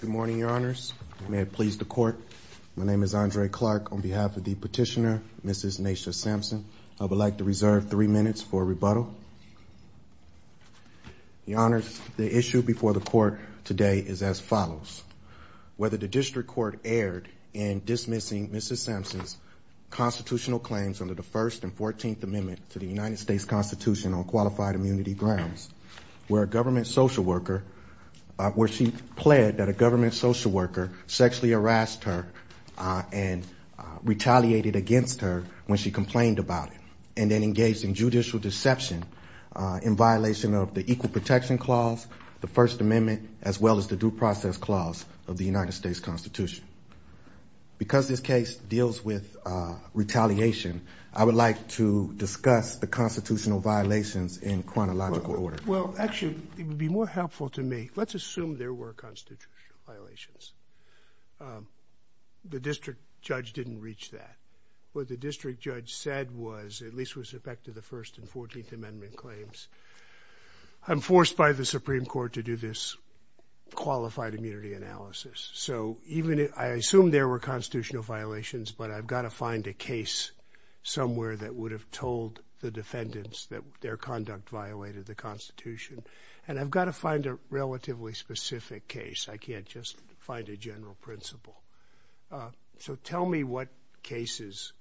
Good morning, your honors. May it please the court. My name is Andre Clark. On behalf of the petitioner, Mrs. Nacia Sampson, I would like to reserve three minutes for rebuttal. Your honors, the issue before the court today is as follows. Whether the district court erred in dismissing Mrs. Sampson's constitutional claims under the First and Fourteenth Amendment to the United States Constitution on qualified immunity grounds, where a government social worker, where she pled that a government social worker sexually harassed her and retaliated against her when she complained about it and then engaged in judicial deception in violation of the Equal Protection Clause, the First Amendment, as well as the Due Process Clause of the United States Constitution. Because this case deals with retaliation, I would like to discuss the constitutional violations in chronological order. Well, actually, it would be more helpful to me, let's assume there were constitutional violations. The district judge didn't reach that. What the district judge said was, at least was effective, the First and Fourteenth Amendment claims. I'm forced by the Supreme Court to do this qualified immunity analysis. So even if I assume there were constitutional violations, but I've got to find a case somewhere that would have told the defendants that their conduct violated the Constitution. And I've got to find a relatively specific case. I can't just find a general principle. So tell me what cases,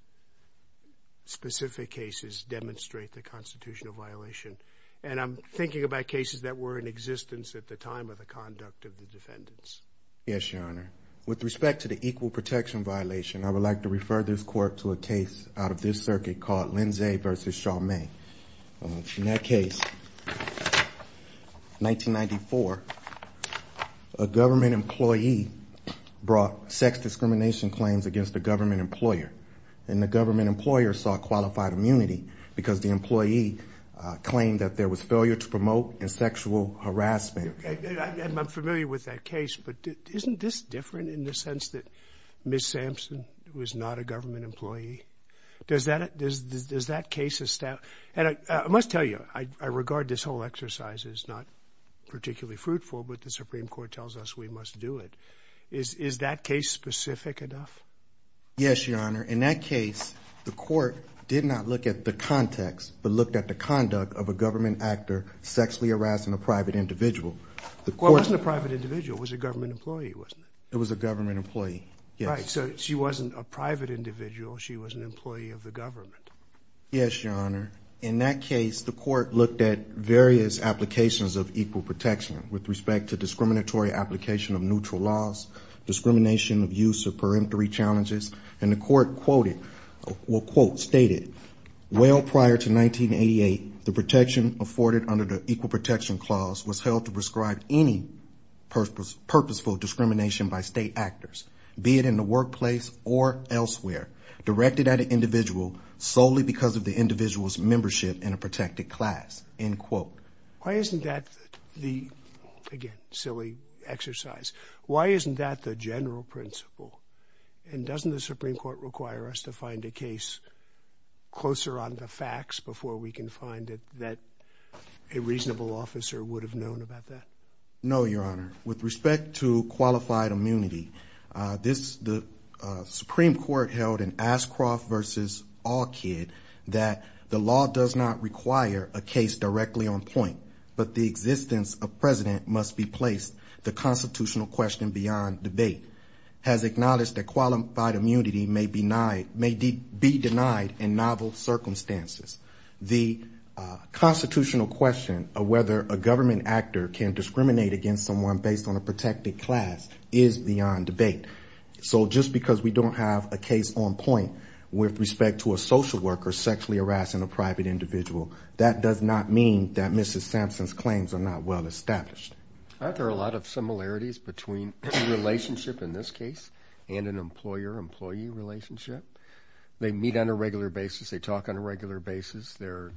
specific cases, demonstrate the constitutional violation. And I'm thinking about cases that were in existence at the time of the conduct of the defendants. Yes, Your Honor. With respect to the equal protection violation, I would like to refer this court to a case out of this circuit called Lindsay v. Chalmette. In that case, 1994, a government employee brought sex discrimination claims against a government employer. And the government employer sought qualified immunity because the employee claimed that there was But isn't this different in the sense that Ms. Sampson was not a government employee? Does that, does that case establish, and I must tell you, I regard this whole exercise as not particularly fruitful, but the Supreme Court tells us we must do it. Is that case specific enough? Yes, Your Honor. In that case, the court did not look at the context, but looked at the conduct of a government actor sexually harassing a private individual. Well, it wasn't a private individual. It was a government employee, wasn't it? It was a government employee, yes. Right, so she wasn't a private individual. She was an employee of the government. Yes, Your Honor. In that case, the court looked at various applications of equal protection with respect to discriminatory application of neutral laws, discrimination of use of peremptory challenges, and the court quoted, well, quote, stated, Well, prior to 1988, the protection afforded under the Equal Protection Clause was held to prescribe any purposeful discrimination by state actors, be it in the workplace or elsewhere, directed at an individual solely because of the individual's membership in a protected class, end quote. Why isn't that the, again, silly exercise, why isn't that the general principle? And doesn't the Supreme Court require us to find a case closer on the facts before we can find it that a reasonable officer would have known about that? No, Your Honor. With respect to qualified immunity, this, the Supreme Court held in Ashcroft v. Allkid that the law does not require a case directly on point, but the existence of president must be placed, the constitutional question beyond debate, has acknowledged that qualified immunity may be denied in novel circumstances. The constitutional question of whether a government actor can discriminate against someone based on a protected class is beyond debate. So just because we don't have a case on point with respect to a social worker sexually harassing a private individual, that does not mean that Mrs. Sampson's claims are not well established. Aren't there a lot of similarities between a relationship, in this case, and an employer-employee relationship? They meet on a regular basis, they talk on a regular basis, they're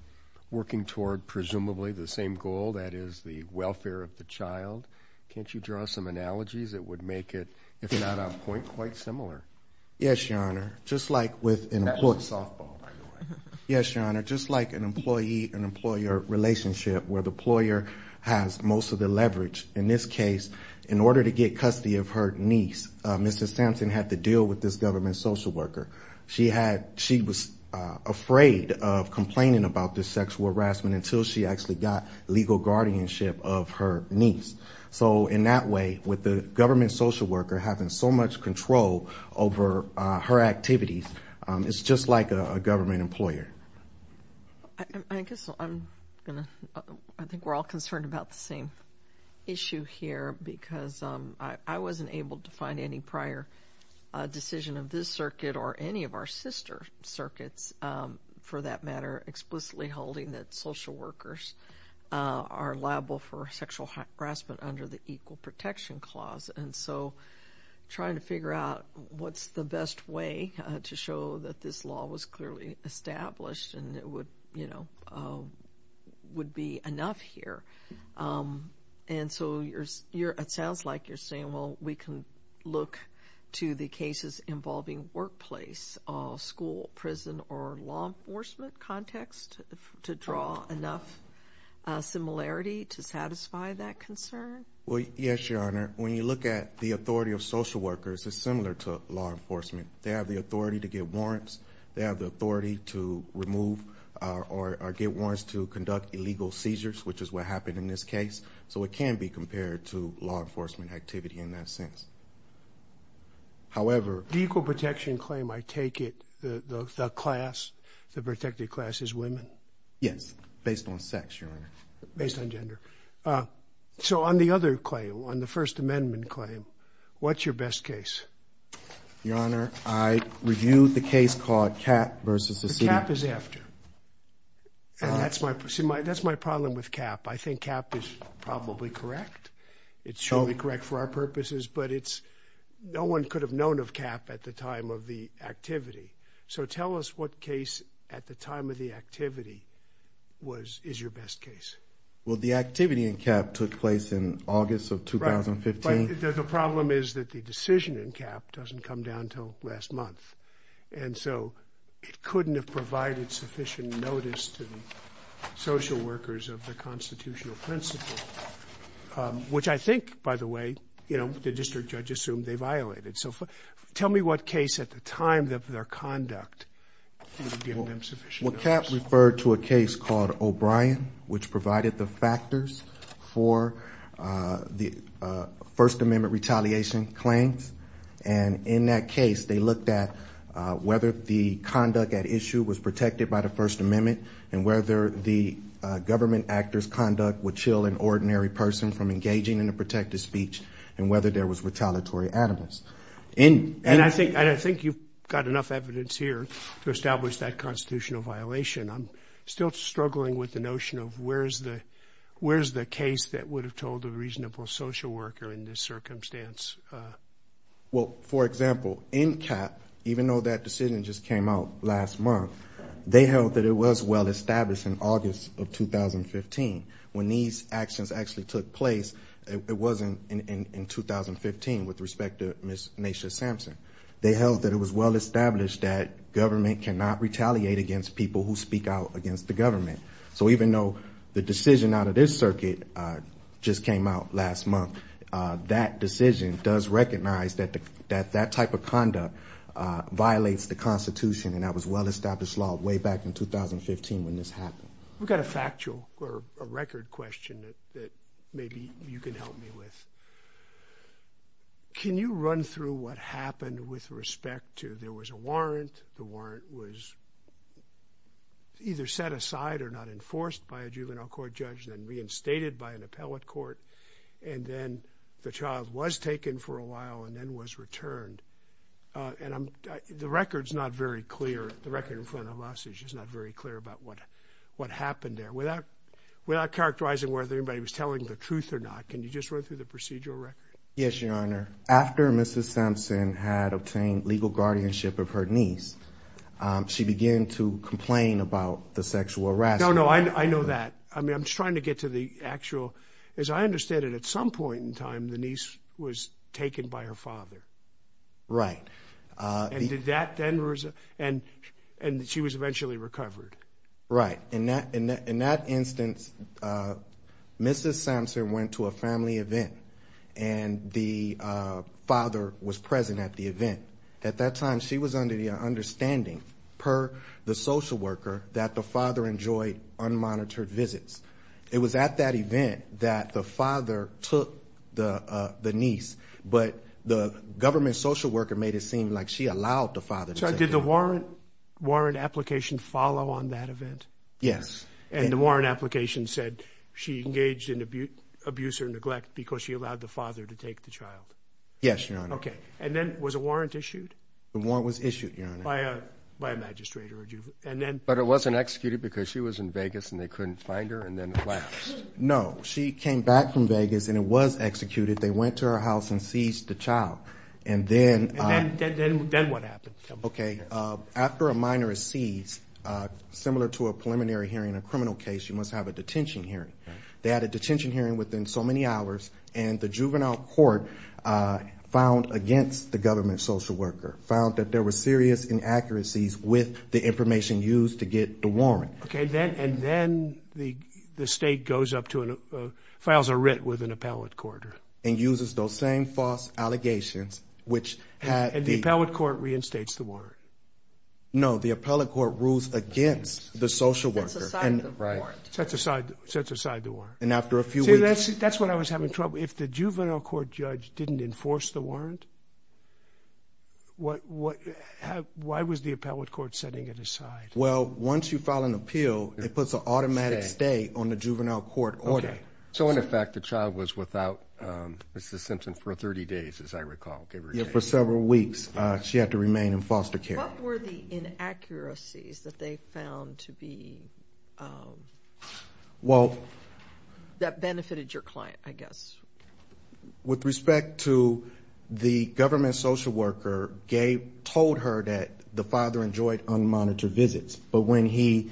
working toward presumably the same goal, that is, the welfare of the child. Can't you draw some analogies that would make it, if not on point, quite similar? Yes, Your Honor. Just like with an employee. That's a softball, by the way. Yes, Your Honor. Just like an employee-employer relationship, where the employer has most of the leverage, in this case, in order to get custody of her niece, Mrs. Sampson had to deal with this government social worker. She was afraid of complaining about this sexual harassment until she actually got legal guardianship of her niece. So in that way, with the government social worker having so much control over her activities, it's just like a government employer. I guess I'm going to, I think we're all concerned about the same issue here, because I wasn't able to find any prior decision of this circuit or any of our sister circuits, for that matter, explicitly holding that social workers are liable for sexual harassment under the Equal Protection Clause. And so trying to figure out what's the best way to show that this law was clearly established and it would, you know, would be enough here. And so it sounds like you're saying, well, we can look to the cases involving workplace, school, prison, or law enforcement context to draw enough similarity to satisfy that concern? Well, yes, Your Honor. When you look at the authority of social workers, it's similar to law enforcement. They have the authority to get warrants. They have the authority to remove or get warrants to conduct illegal seizures, which is what happened in this case. So it can be compared to law enforcement activity in that sense. However... The Equal Protection Claim, I take it, the class, the protected class is women? Yes, based on sex, Your Honor. Based on gender. So on the other claim, on the First Amendment claim, what's your best case? Your Honor, I reviewed the case called CAPP versus the city... The CAPP is after. That's my problem with CAPP. I think CAPP is probably correct. It's surely correct for our purposes, but it's, no one could have known of CAPP at the time of the activity. So tell us what case at the time of the activity was, is your best case. Well, the activity in CAPP took place in August of 2015. But the problem is that the decision in CAPP doesn't come down until last month. And so it couldn't have provided sufficient notice to the social workers of the constitutional principle, which I think, by the way, you know, the district judge assumed they violated. So tell me what case at the time of their conduct would have given them sufficient notice. Well, CAPP referred to a case called O'Brien, which provided the factors for the First Amendment retaliation claims. And in that case, they looked at whether the conduct at issue was protected by the First Amendment and whether the government actor's conduct would chill an ordinary person from engaging in a protective speech and whether there was retaliatory animus. And I think, and I think you've got enough evidence here to establish that constitutional violation. I'm still struggling with the notion of where's the, where's the case that would have told a reasonable social worker in this circumstance? Well, for example, in CAPP, even though that decision just came out last month, they held that it was well established in August of 2015. When these actions actually took place, it wasn't in 2015 with respect to Ms. Nasha Sampson. They held that it was well established that government cannot retaliate against people who speak out against the government. So even though the decision out of this circuit just came out last month, that decision does recognize that that type of conduct violates the Constitution. And that was well established law way back in 2015 when this happened. We've got a factual or a record question that maybe you can help me with. Can you run through what happened with respect to, there was a warrant, the warrant was either set aside or not enforced by a juvenile court judge, then reinstated by an appellate court, and then the child was taken for a while and then was returned. And the record's not very clear. The record in front of us is just not very clear about what happened there. Without characterizing whether anybody was telling the truth or not, can you just run through the procedural record? Yes, Your Honor. After Mrs. Sampson had obtained legal guardianship of her niece, she began to complain about the sexual harassment. No, no, I know that. I mean, I'm just trying to get to the actual, as I understand it, at some point in time, the niece was taken by her father. Right. And did that then, and she was eventually recovered? Right. In that instance, Mrs. Sampson went to a family event, and the father was present at the event. At that time, she was under the understanding, per the social worker, that the father enjoyed unmonitored visits. It was at that event that the father took the niece, but the government social worker made it seem like she allowed the father to take her. Did the warrant application follow on that event? Yes. And the warrant application said she engaged in abuse or neglect because she allowed the father to take the child? Yes, Your Honor. Okay. And then was a warrant issued? The warrant was issued, Your Honor. By a magistrator. But it wasn't executed because she was in Vegas and they couldn't find her? No. She came back from Vegas and it was executed. They went to her house and seized the child. And then what happened? Okay. After a minor is seized, similar to a preliminary hearing in a criminal case, you must have a detention hearing. They had a detention hearing within so many hours, and the juvenile court found against the government social worker, found that there were serious inaccuracies with the information used to get the warrant. Okay. And then the state goes up to and files a writ with an appellate court. And uses those same false allegations, which had... And the appellate court reinstates the warrant. No. The appellate court rules against the social worker. Sets aside the warrant. Sets aside the warrant. And after a few weeks... See, that's what I was having trouble. If the juvenile court judge didn't enforce the warrant, why was the appellate court setting it aside? Well, once you file an appeal, it puts an automatic stay on the juvenile court order. So, in effect, the child was without Mrs. Simpson for 30 days, as I recall. Yeah, for several weeks. She had to remain in foster care. What were the inaccuracies that they found to be... That benefited your client, I guess. With respect to the government social worker, Gabe told her that the father enjoyed unmonitored visits. But when he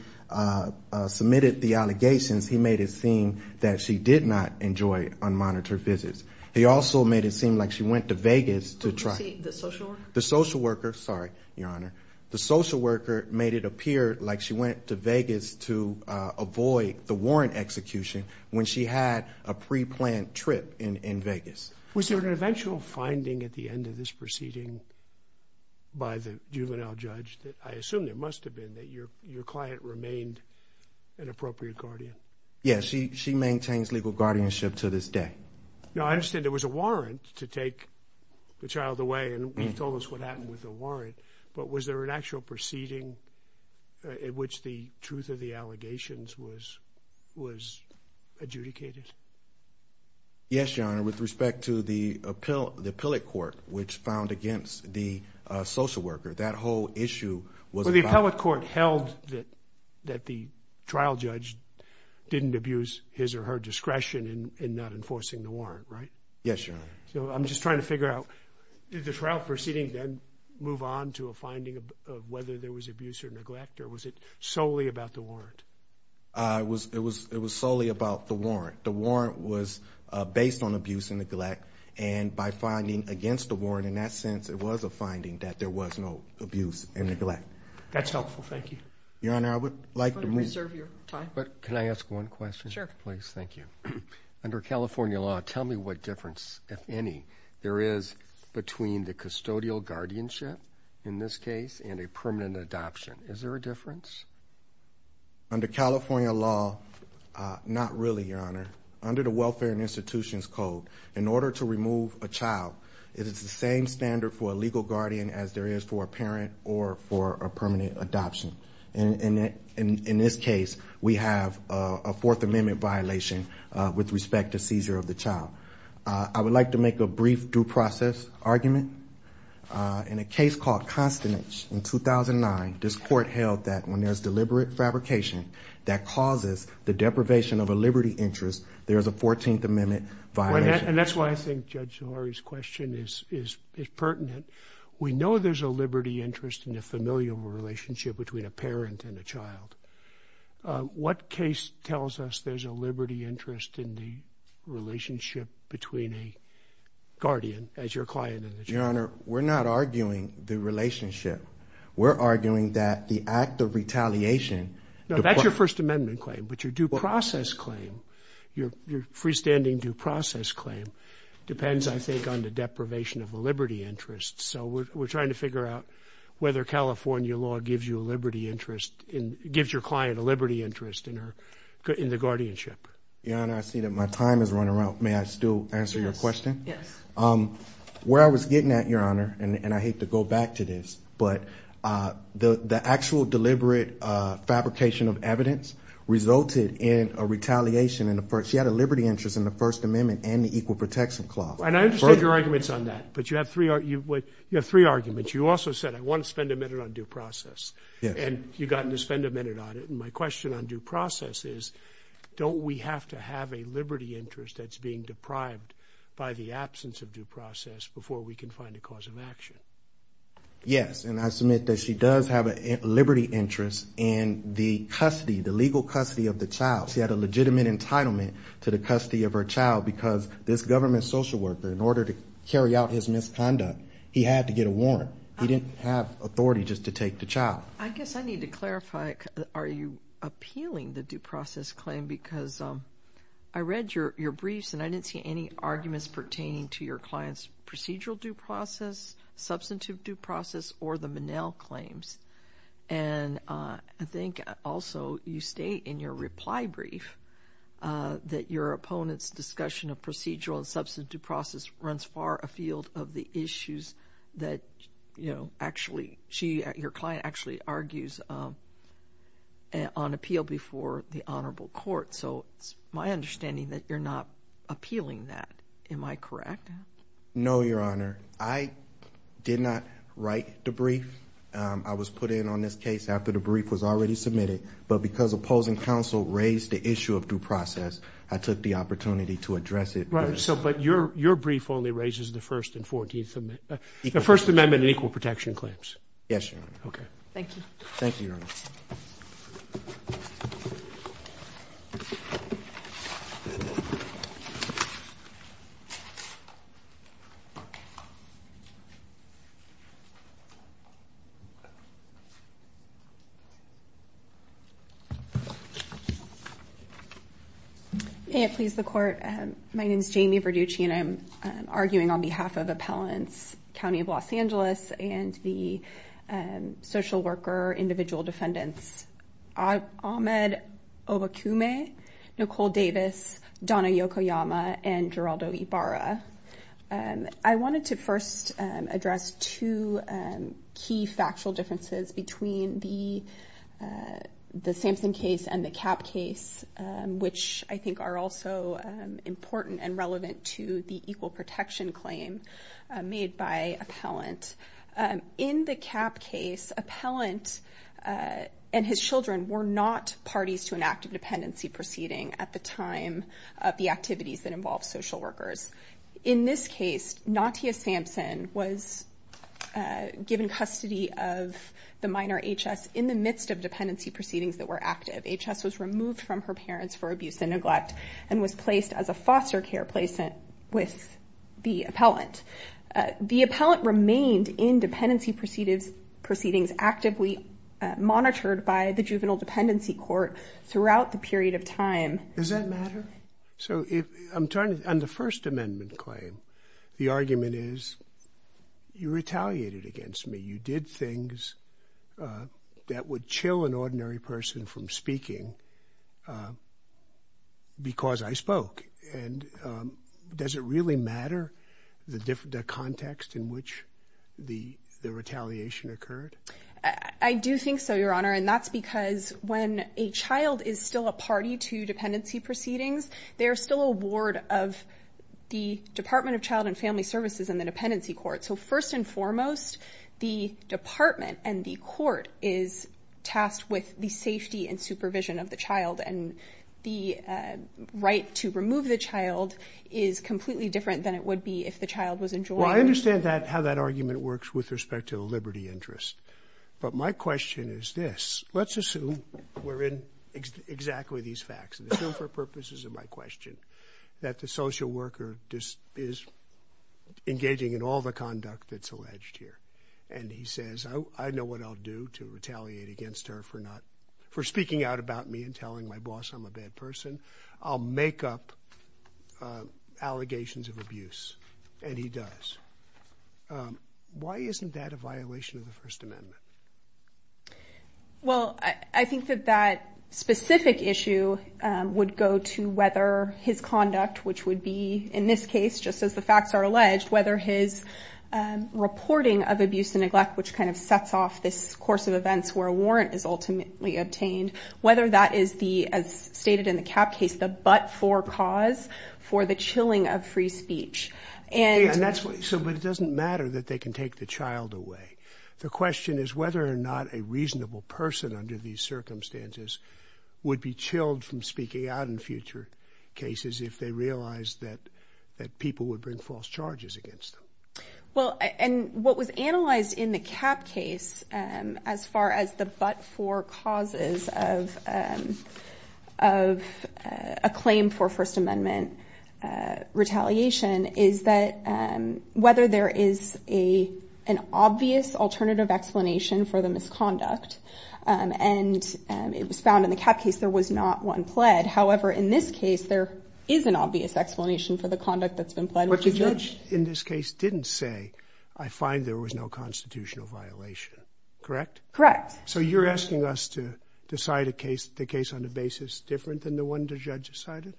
submitted the allegations, he made it seem that she did not enjoy unmonitored visits. He also made it seem like she went to Vegas to try... The social worker? The social worker. Sorry, Your Honor. The social worker made it appear like she went to Vegas to avoid the warrant execution when she had a pre-planned trip in Vegas. Was there an eventual finding at the end of this proceeding by the juvenile judge that I assume there must have been, that your client remained an appropriate guardian? Yes, she maintains legal guardianship to this day. Now, I understand there was a warrant to take the child away, and you've told us what happened with the warrant. But was there an actual proceeding in which the truth of the allegations was adjudicated? Yes, Your Honor. With respect to the appellate court, which found against the social worker, that whole issue was about... The appellate court held that the trial judge didn't abuse his or her discretion in not enforcing the warrant, right? Yes, Your Honor. So I'm just trying to figure out, did the trial proceeding then move on to a finding of whether there was abuse or neglect, or was it solely about the warrant? It was solely about the warrant. The warrant was based on abuse and neglect, and by finding against the warrant, in that sense, it was a finding that there was no abuse and neglect. That's helpful. Thank you. Your Honor, I would like to move... I'm going to reserve your time. But can I ask one question? Sure. Please. Thank you. Under California law, tell me what difference, if any, there is between the custodial guardianship, in this case, and a permanent adoption. Is there a difference? Under California law, not really, Your Honor. Under the Welfare and Institutions Code, in order to remove a child, it is the same standard for a legal guardian as there is for a parent or for a permanent adoption. In this case, we have a Fourth Amendment violation with respect to seizure of the child. I would like to make a brief due process argument. In a case called Constance in 2009, this Court held that when there's deliberate fabrication that causes the deprivation of a liberty interest, there is a Fourteenth Amendment violation. And that's why I think Judge Zohori's question is pertinent. We know there's a liberty interest in a familial relationship between a parent and a child. What case tells us there's a liberty interest in the relationship between a guardian as your client and the child? Your Honor, we're not arguing the relationship. We're arguing that the act of retaliation... No, that's your First Amendment claim, but your due process claim, your freestanding due process claim, depends, I think, on the deprivation of a liberty interest. So we're trying to figure out whether California law gives your client a liberty interest in the guardianship. Your Honor, I see that my time is running out. May I still answer your question? Yes. Where I was getting at, Your Honor, and I hate to go back to this, but the actual deliberate fabrication of evidence resulted in a retaliation. She had a liberty interest in the First Amendment and the Equal Protection Clause. And I understand your arguments on that, but you have three arguments. You also said, I want to spend a minute on due process, and you've gotten to spend a minute on it. And my question on due process is, don't we have to have a liberty interest that's being deprived by the absence of due process before we can find a cause of action? Yes, and I submit that she does have a liberty interest in the custody, the legal custody of the child. She had a legitimate entitlement to the custody of her child because this government social worker, in order to carry out his misconduct, he had to get a warrant. He didn't have authority just to take the child. I guess I need to clarify, are you appealing the due process claim? Because I read your briefs, and I didn't see any arguments pertaining to your client's procedural due process, substantive due process, or the Monell claims. And I think, also, you state in your reply brief that your opponent's discussion of procedural and substantive due process runs far afield of the issues that she, your client, actually argues on appeal before the honorable court. So it's my understanding that you're not appealing that. Am I correct? No, Your Honor. I did not write the brief. I was put in on this case after the brief was already submitted. But because opposing counsel raised the issue of due process, I took the opportunity to address it. But your brief only raises the First Amendment and Equal Protection claims. Yes, Your Honor. Okay. Thank you. Thank you, Your Honor. May it please the Court. My name is Jamie Verducci, and I'm arguing on behalf of Appellants' County of Los Angeles and the social worker individual defendants, Ahmed Obakume, Nicole Davis, Donna Yokoyama, and Geraldo Ibarra. I wanted to first address two key factual differences between the Sampson case and the Kapp case, which I think are also important and relevant to the Equal Protection claim made by Appellant. In the Kapp case, Appellant and his children were not parties to an active dependency proceeding at the time of the activities that involved social workers. In this case, Natia Sampson was given custody of the minor H.S. in the midst of dependency proceedings that were active. H.S. was removed from her parents for abuse and neglect and was placed as a foster care placent with the Appellant. The Appellant remained in dependency proceedings actively monitored by the Juvenile Dependency Court throughout the period of time. Does that matter? So if I'm trying to, on the First Amendment claim, the argument is you retaliated against me. You did things that would chill an ordinary person from speaking because I spoke. And does it really matter the context in which the retaliation occurred? I do think so, Your Honor. And that's because when a child is still a party to dependency proceedings, they're still a ward of the Department of Child and Family Services and the Dependency Court. So first and foremost, the department and the court is tasked with the safety and supervision of the child. And the right to remove the child is completely different than it would be if the child was enjoined. Well, I understand that, how that argument works with respect to the liberty interest. But my question is this. Let's assume we're in exactly these facts. Assume for purposes of my question that the social worker is engaging in all the conduct that's alleged here. And he says, I know what I'll do to retaliate against her for speaking out about me and telling my boss I'm a bad person. I'll make up allegations of abuse. And he does. Why isn't that a violation of the First Amendment? Well, I think that that specific issue would go to whether his conduct, which would be in this case, just as the facts are alleged, whether his reporting of abuse and neglect, which kind of sets off this course of events where a warrant is ultimately obtained, whether that is the, as stated in the CAP case, the but-for cause for the chilling of free speech. And that's what... So, but it doesn't matter that they can take the child away. The question is whether or not a reasonable person under these circumstances would be chilled from speaking out in future cases if they realized that people would bring false charges against them. Well, and what was analyzed in the CAP case as far as the but-for causes of a claim for First Amendment retaliation is that whether there is an obvious alternative explanation for the misconduct. And it was found in the CAP case there was not one pled. However, in this case, there is an obvious explanation for the conduct that's been pled with the judge. But the judge in this case didn't say, I find there was no constitutional violation. Correct? Correct. So you're asking us to decide a case, the case on a basis different than the one the judge decided?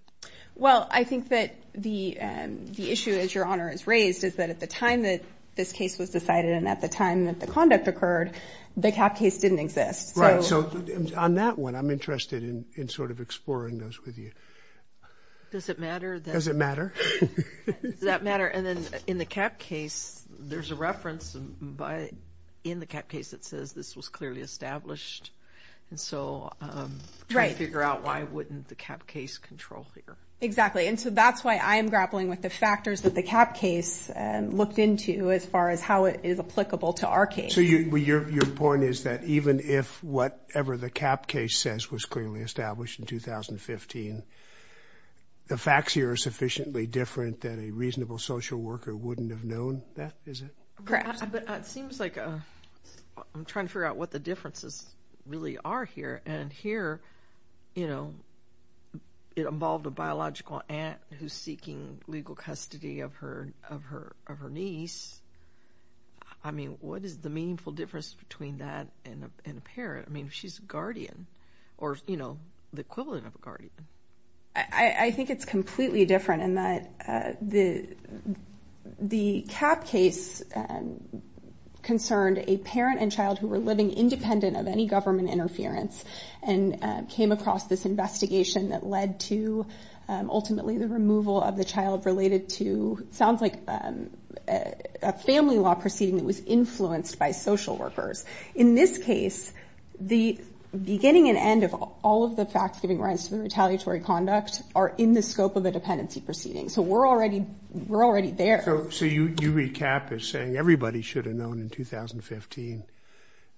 Well, I think that the issue, as Your Honor has raised, is that at the time that this case was decided and at the time that the conduct occurred, the CAP case didn't exist. Right. So on that one, I'm interested in sort of exploring those with you. Does it matter? Does it matter? Does that matter? And then in the CAP case, there's a reference in the CAP case that says this was clearly established. And so... Right. I'm trying to figure out why wouldn't the CAP case control here? Exactly. And so that's why I'm grappling with the factors that the CAP case looked into as far as how it is applicable to our case. So your point is that even if whatever the CAP case says was clearly established in 2015, the facts here are sufficiently different that a reasonable social worker wouldn't have known that, is it? Correct. But it seems like... I'm trying to figure out what the differences really are here. And here, you know, it involved a biological aunt who's seeking legal custody of her niece. I mean, what is the meaningful difference between that and a parent? I mean, she's a guardian, or, you know, the equivalent of a guardian. I think it's completely different in that the CAP case concerned a parent and child who were living independent of any government interference and came across this investigation that led to, ultimately, the removal of the child related to... It sounds like a family law proceeding that was influenced by social workers. In this case, the beginning and end of all of the facts giving rise to the retaliatory conduct are in the scope of a dependency proceeding. So we're already... we're already there. So you recap as saying everybody should have known in 2015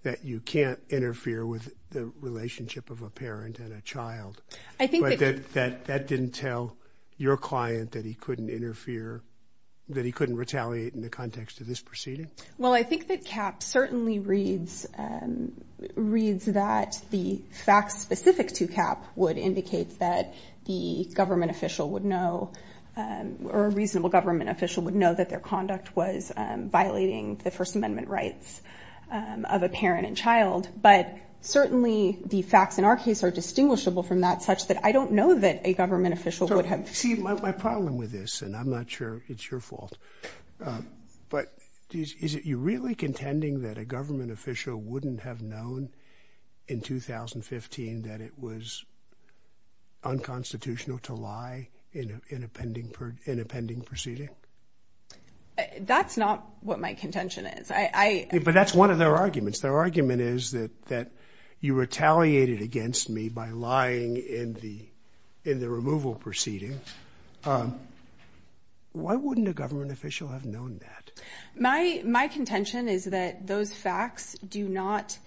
that you can't interfere with the relationship of a parent and a child. But that didn't tell your client that he couldn't interfere... that he couldn't retaliate in the context of this proceeding? Well, I think that CAP certainly reads... reads that the facts specific to CAP would indicate that the government official would know... or a reasonable government official would know that their conduct was violating the First Amendment rights of a parent and child. But certainly the facts in our case are distinguishable from that, such that I don't know that a government official would have... See, my problem with this, and I'm not sure it's your fault, but is it... you're really contending that a government official wouldn't have known in 2015 that it was unconstitutional to lie in a pending... in a pending proceeding? That's not what my contention is. But that's one of their arguments. Their argument is that you retaliated against me by lying in the removal proceeding. Why wouldn't a government official have known that? My contention is that those facts do not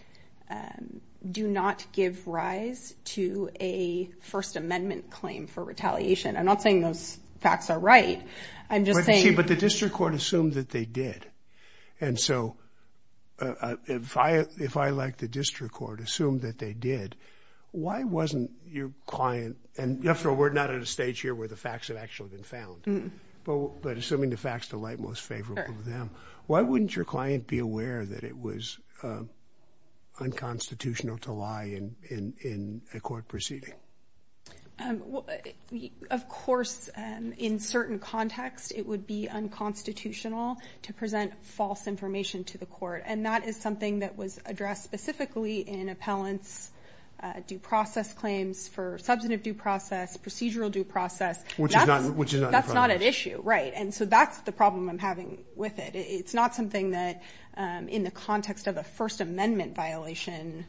give rise to a First Amendment claim for retaliation. I'm not saying those facts are right. I'm just saying... But see, but the district court assumed that they did. And so if I, like the district court, assumed that they did, why wasn't your client... and you have to know we're not at a stage here where the facts have actually been found. But assuming the facts delight most favorable to them, why wouldn't your client be aware that it was unconstitutional to lie in a court proceeding? Of course, in certain contexts, it would be unconstitutional to present false information to the court. And that is something that was addressed specifically in appellants' due process claims for substantive due process, procedural due process. Which is not... That's not at issue, right. And so that's the problem I'm having with it. It's not something that, in the context of a First Amendment violation,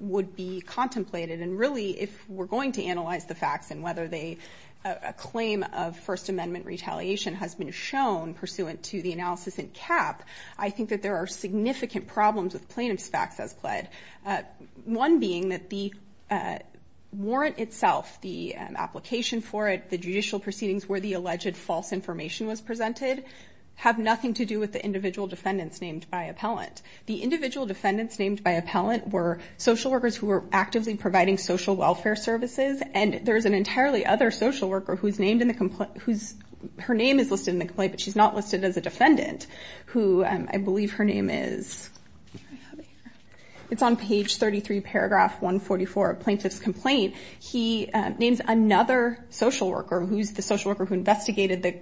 would be contemplated. And really, if we're going to analyze the facts and whether they... a claim of First Amendment retaliation has been shown pursuant to the analysis in CAP, I think that there are significant problems with plaintiff's facts as pled. One being that the warrant itself, the application for it, the judicial proceedings where the alleged false information was presented, have nothing to do with the individual defendants named by appellant. The individual defendants named by appellant were social workers who were actively providing social welfare services. And there's an entirely other social worker who's named in the... Her name is listed in the complaint, but she's not listed as a defendant, who I believe her name is... It's on page 33, paragraph 144 of plaintiff's complaint. He names another social worker, who's the social worker who investigated the...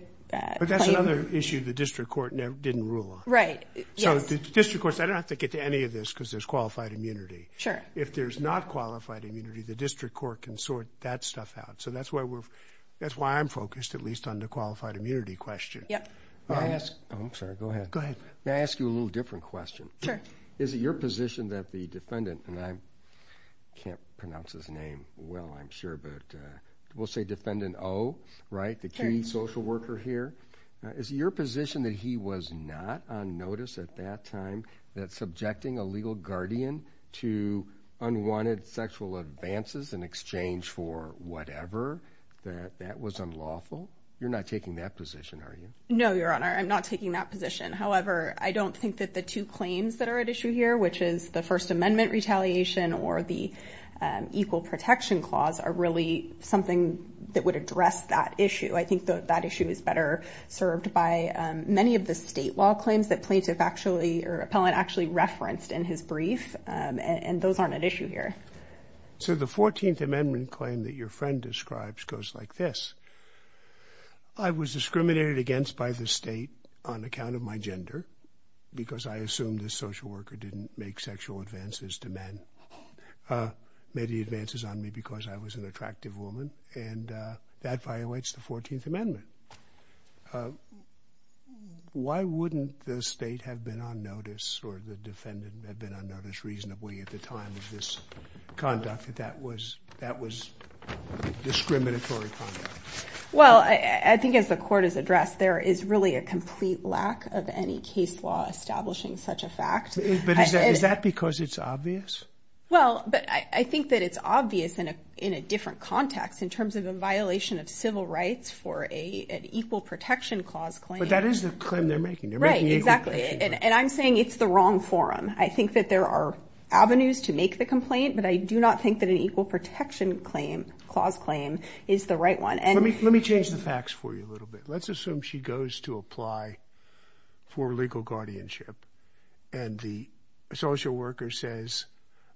But that's another issue the district court didn't rule on. Right. Yes. So the district courts... I don't have to get to any of this because there's qualified immunity. Sure. If there's not qualified immunity, the district court can sort that stuff out. So that's why we're... That's why I'm focused at least on the qualified immunity question. Yep. May I ask... Oh, I'm sorry. Go ahead. Go ahead. May I ask you a little different question? Sure. Is it your position that the defendant... And I can't pronounce his name well, I'm sure, but we'll say Defendant O, right, the key social worker here. Is it your position that he was not on notice at that time that subjecting a legal guardian to unwanted sexual advances in exchange for whatever, that that was unlawful? You're not taking that position, are you? No, Your Honor, I'm not taking that position. However, I don't think that the two claims that are at issue here, which is the First Amendment retaliation or the Equal Protection Clause are really something that would address that issue. I think that that issue is better served by many of the state law claims that plaintiff actually, or appellant, actually referenced in his brief, and those aren't at issue here. So the 14th Amendment claim that your friend describes goes like this. I was discriminated against by the state on account of my gender because I assumed this social worker didn't make sexual advances to men. Made the advances on me because I was an attractive woman, and that violates the 14th Amendment. Why wouldn't the state have been on notice, or the defendant had been on notice reasonably at the time of this conduct that that was discriminatory conduct? Well, I think as the court has addressed, there is really a complete lack of any case law establishing such a fact. But is that because it's obvious? Well, but I think that it's obvious in a different context in terms of a violation of civil rights for an Equal Protection Clause claim. But that is the claim they're making. Right, exactly. And I'm saying it's the wrong forum. I think that there are avenues to make the complaint, but I do not think that an Equal Protection Clause claim is the right one. Let me change the facts for you a little bit. Let's assume she goes to apply for legal guardianship and the social worker says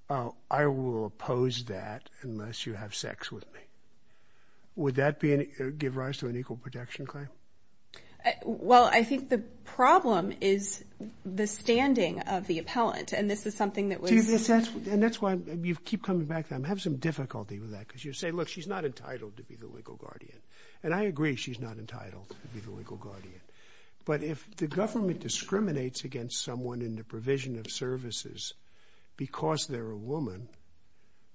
I will oppose that unless you have sex with me. Would that give rise to an Equal Protection Claim? Well, I think the problem is the standing of the appellant, and this is something that was... And that's why you keep coming back to that. I have some difficulty with that, because you say, look, she's not entitled to be the legal guardian. And I agree she's not entitled to be the legal guardian. But if the government discriminates against someone in the provision of services because they're a woman,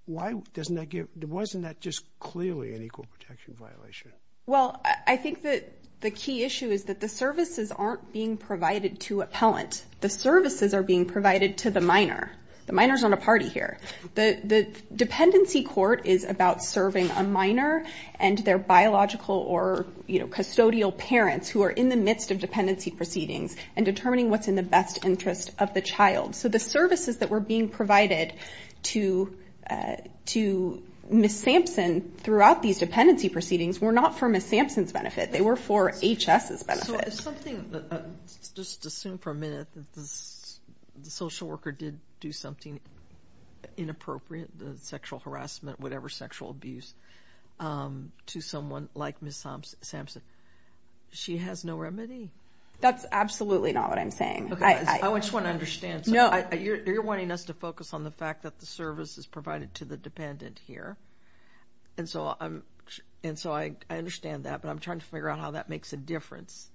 why doesn't that give... Wasn't that just clearly an Equal Protection violation? Well, I think that the key issue is that the services aren't being provided to appellant. The services are being provided to the minor. The minor's not a party here. The dependency court is about serving a minor and their biological or custodial parents who are in the midst of dependency proceedings and determining what's in the best interest of the child. So the services that were being provided to Ms. Sampson throughout these dependency proceedings were not for Ms. Sampson's benefit. They were for H.S.'s benefit. Just assume for a minute that the social worker did do something inappropriate, sexual harassment, whatever sexual abuse, to someone like Ms. Sampson. She has no remedy. That's absolutely not what I'm saying. I just want to understand. You're wanting us to focus on the fact that the service is provided to the dependent here. And so I understand that. But I'm trying to figure out how that makes a difference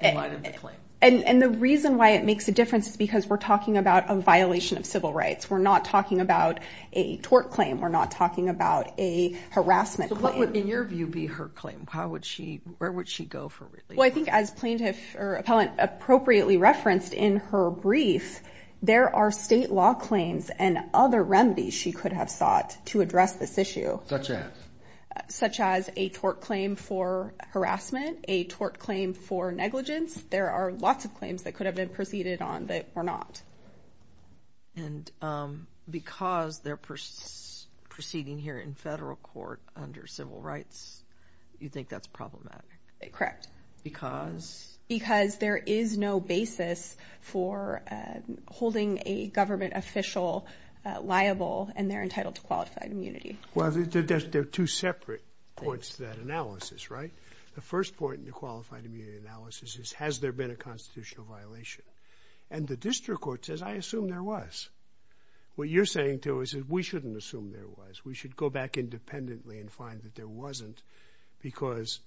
in light of the claim. And the reason why it makes a difference is because it's a violation of civil rights. We're not talking about a tort claim. We're not talking about a harassment claim. So what would, in your view, be her claim? Where would she go for relief? Well, I think as plaintiff, or appellant, appropriately referenced in her brief, there are state law claims and other remedies she could have sought to address this issue. Such as? Such as a tort claim for harassment, a tort claim for negligence. There are lots of claims that could have been proceeded on that were not. And because they're proceeding here in federal court under civil rights, you think that's problematic? Correct. Because? Because there is no basis for holding a government official liable and they're entitled to qualified immunity. Well, there are two separate points to that analysis, right? The first point in the qualified immunity analysis is, has there been a constitutional violation? And the district court says, I assume there was. What you're saying, too, is that we shouldn't assume there was. We should go back independently and find that there wasn't because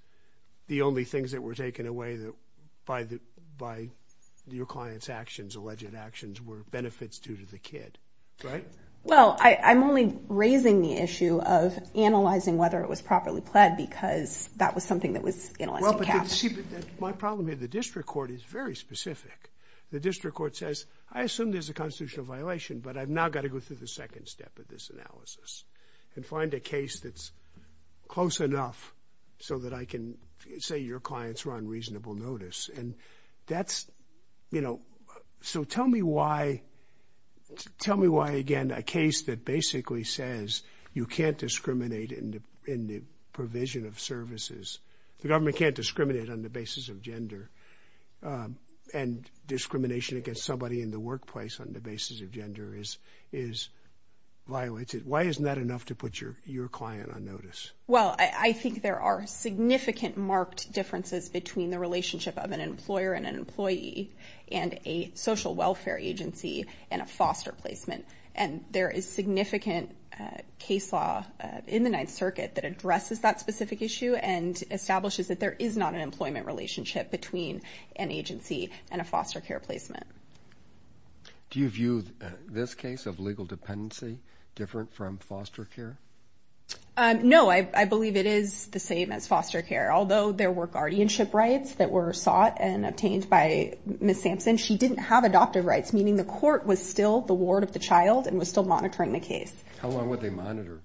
the only things that were taken away by your client's actions, alleged actions, were benefits due to the kid. Right? Well, I'm only raising the issue of analyzing whether it was properly pled because that was something that was Well, but see, my problem here, the district court is very specific. The district court says, I assume there's a constitutional violation, but I've now got to go through the second step of this analysis and find a case that's close enough so that I can say your clients were on reasonable notice. And that's you know, so tell me why tell me why, again, a case that basically says you can't discriminate in the provision of services. The government can't discriminate on the basis of gender. And discrimination against somebody in the workplace on the basis of gender is violated. Why isn't that enough to put your client on notice? Well, I think there are significant marked differences between the relationship of an employer and an employee and a social welfare agency and a foster placement. And there is significant case law in the specific issue and establishes that there is not an employment relationship between an agency and a foster care placement. Do you view this case of legal dependency different from foster care? No, I believe it is the same as foster care. Although there were guardianship rights that were sought and obtained by Ms. Sampson, she didn't have adoptive rights, meaning the court was still the ward of the child and was still monitoring the case. How long would they monitor?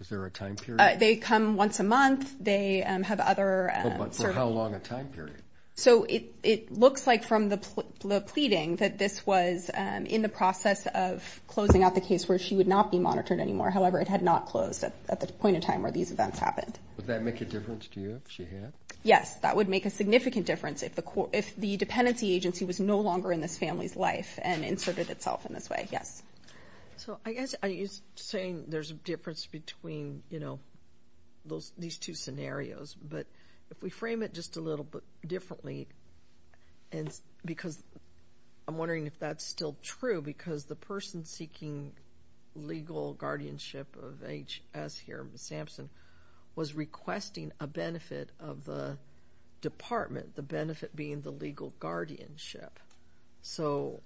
Is there a time period? They come once a month. But for how long a time period? So it looks like from the pleading that this was in the process of closing out the case where she would not be monitored anymore. However, it had not closed at the point in time where these events happened. Would that make a difference to you if she had? Yes, that would make a significant difference if the dependency agency was no longer in this family's life and inserted itself in this way. Yes. So I guess you're saying there's a difference between, you know, these two scenarios. But if we frame it just a little bit differently, because I'm wondering if that's still true because legal guardianship of H.S. here, Ms. Sampson, was requesting a benefit of the department, the benefit being the legal guardianship. So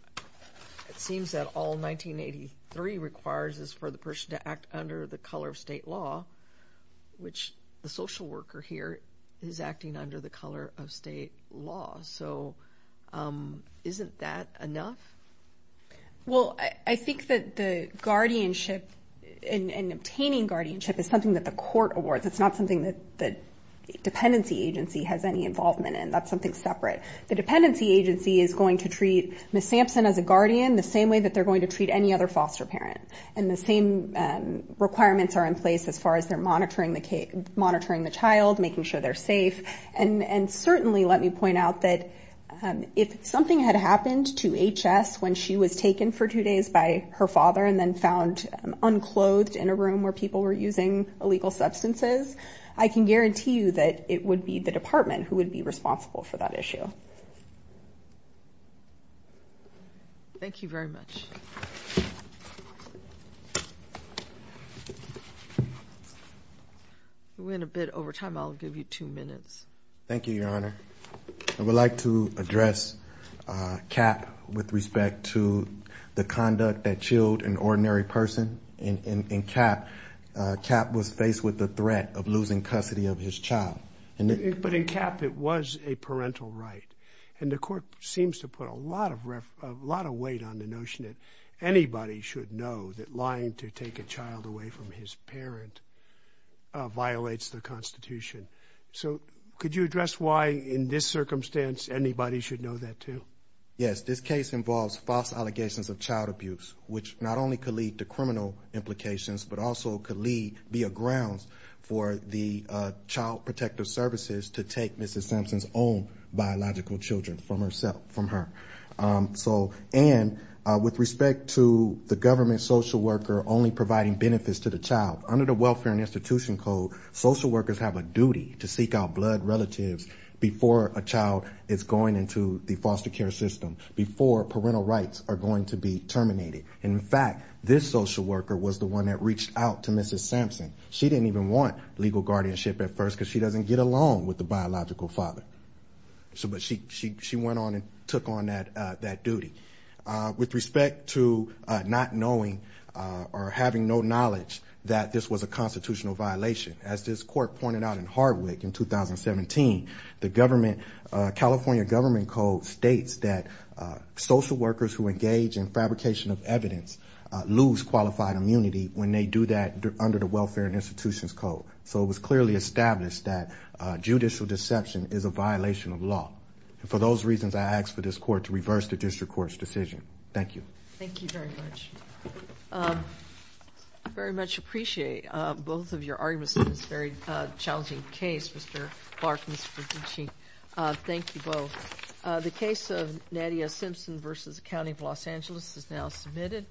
it seems that all 1983 requires is for the person to act under the color of state law, which the social worker here is acting under the color of state law. So isn't that enough? Well, I think that the guardianship and obtaining guardianship is something that the court awards. It's not something that dependency agency has any involvement in. That's something separate. The dependency agency is going to treat Ms. Sampson as a guardian the same way that they're going to treat any other foster parent. And the same requirements are in place as far as they're monitoring the child, making sure they're safe. And certainly, let me point out that if something had happened to H.S. when she was taken for two days by her father and then found unclothed in a room where people were using illegal substances, I can guarantee you that it would be the department who would be responsible. Thank you very much. We're in a bit over time. I'll give you two minutes. Thank you, Your Honor. I would like to address Cap with respect to the conduct that chilled an ordinary person. Cap was faced with the threat of losing custody of his child. But in Cap, it was a parental right. And the court seems to put a lot of weight on the notion that anybody should know that lying to take a child away from his parent violates the Constitution. So could you address why in this circumstance anybody should know that too? Yes. This case involves false allegations of child abuse, which not only could lead to criminal implications but also could be a ground for the Child Welfare and Institution Code to remove Mrs. Sampson's own biological children from her. And with respect to the government social worker only providing benefits to the child, under the Welfare and Institution Code, social workers have a duty to seek out blood relatives before a child is going into the foster care system, before parental rights are going to be terminated. In fact, this social worker was the one that reached out to Mrs. Sampson. She didn't even want legal guardianship at first because she doesn't get along with the biological father. She went on and took on that duty. With respect to not knowing or having no knowledge that this was a constitutional violation, as this court pointed out in Hardwick in 2017, the government California Government Code states that social workers who engage in fabrication of evidence lose qualified immunity when they do that under the Welfare and Institution Code. So it was clearly established that judicial deception is a violation of law. And for those reasons, I ask for this court to reverse the district court's decision. Thank you. Thank you very much. I very much appreciate both of your arguments in this very challenging case, Mr. Clark and Mr. DiCicci. Thank you both. The case of Nadia Simpson v. County of Los Angeles is now submitted.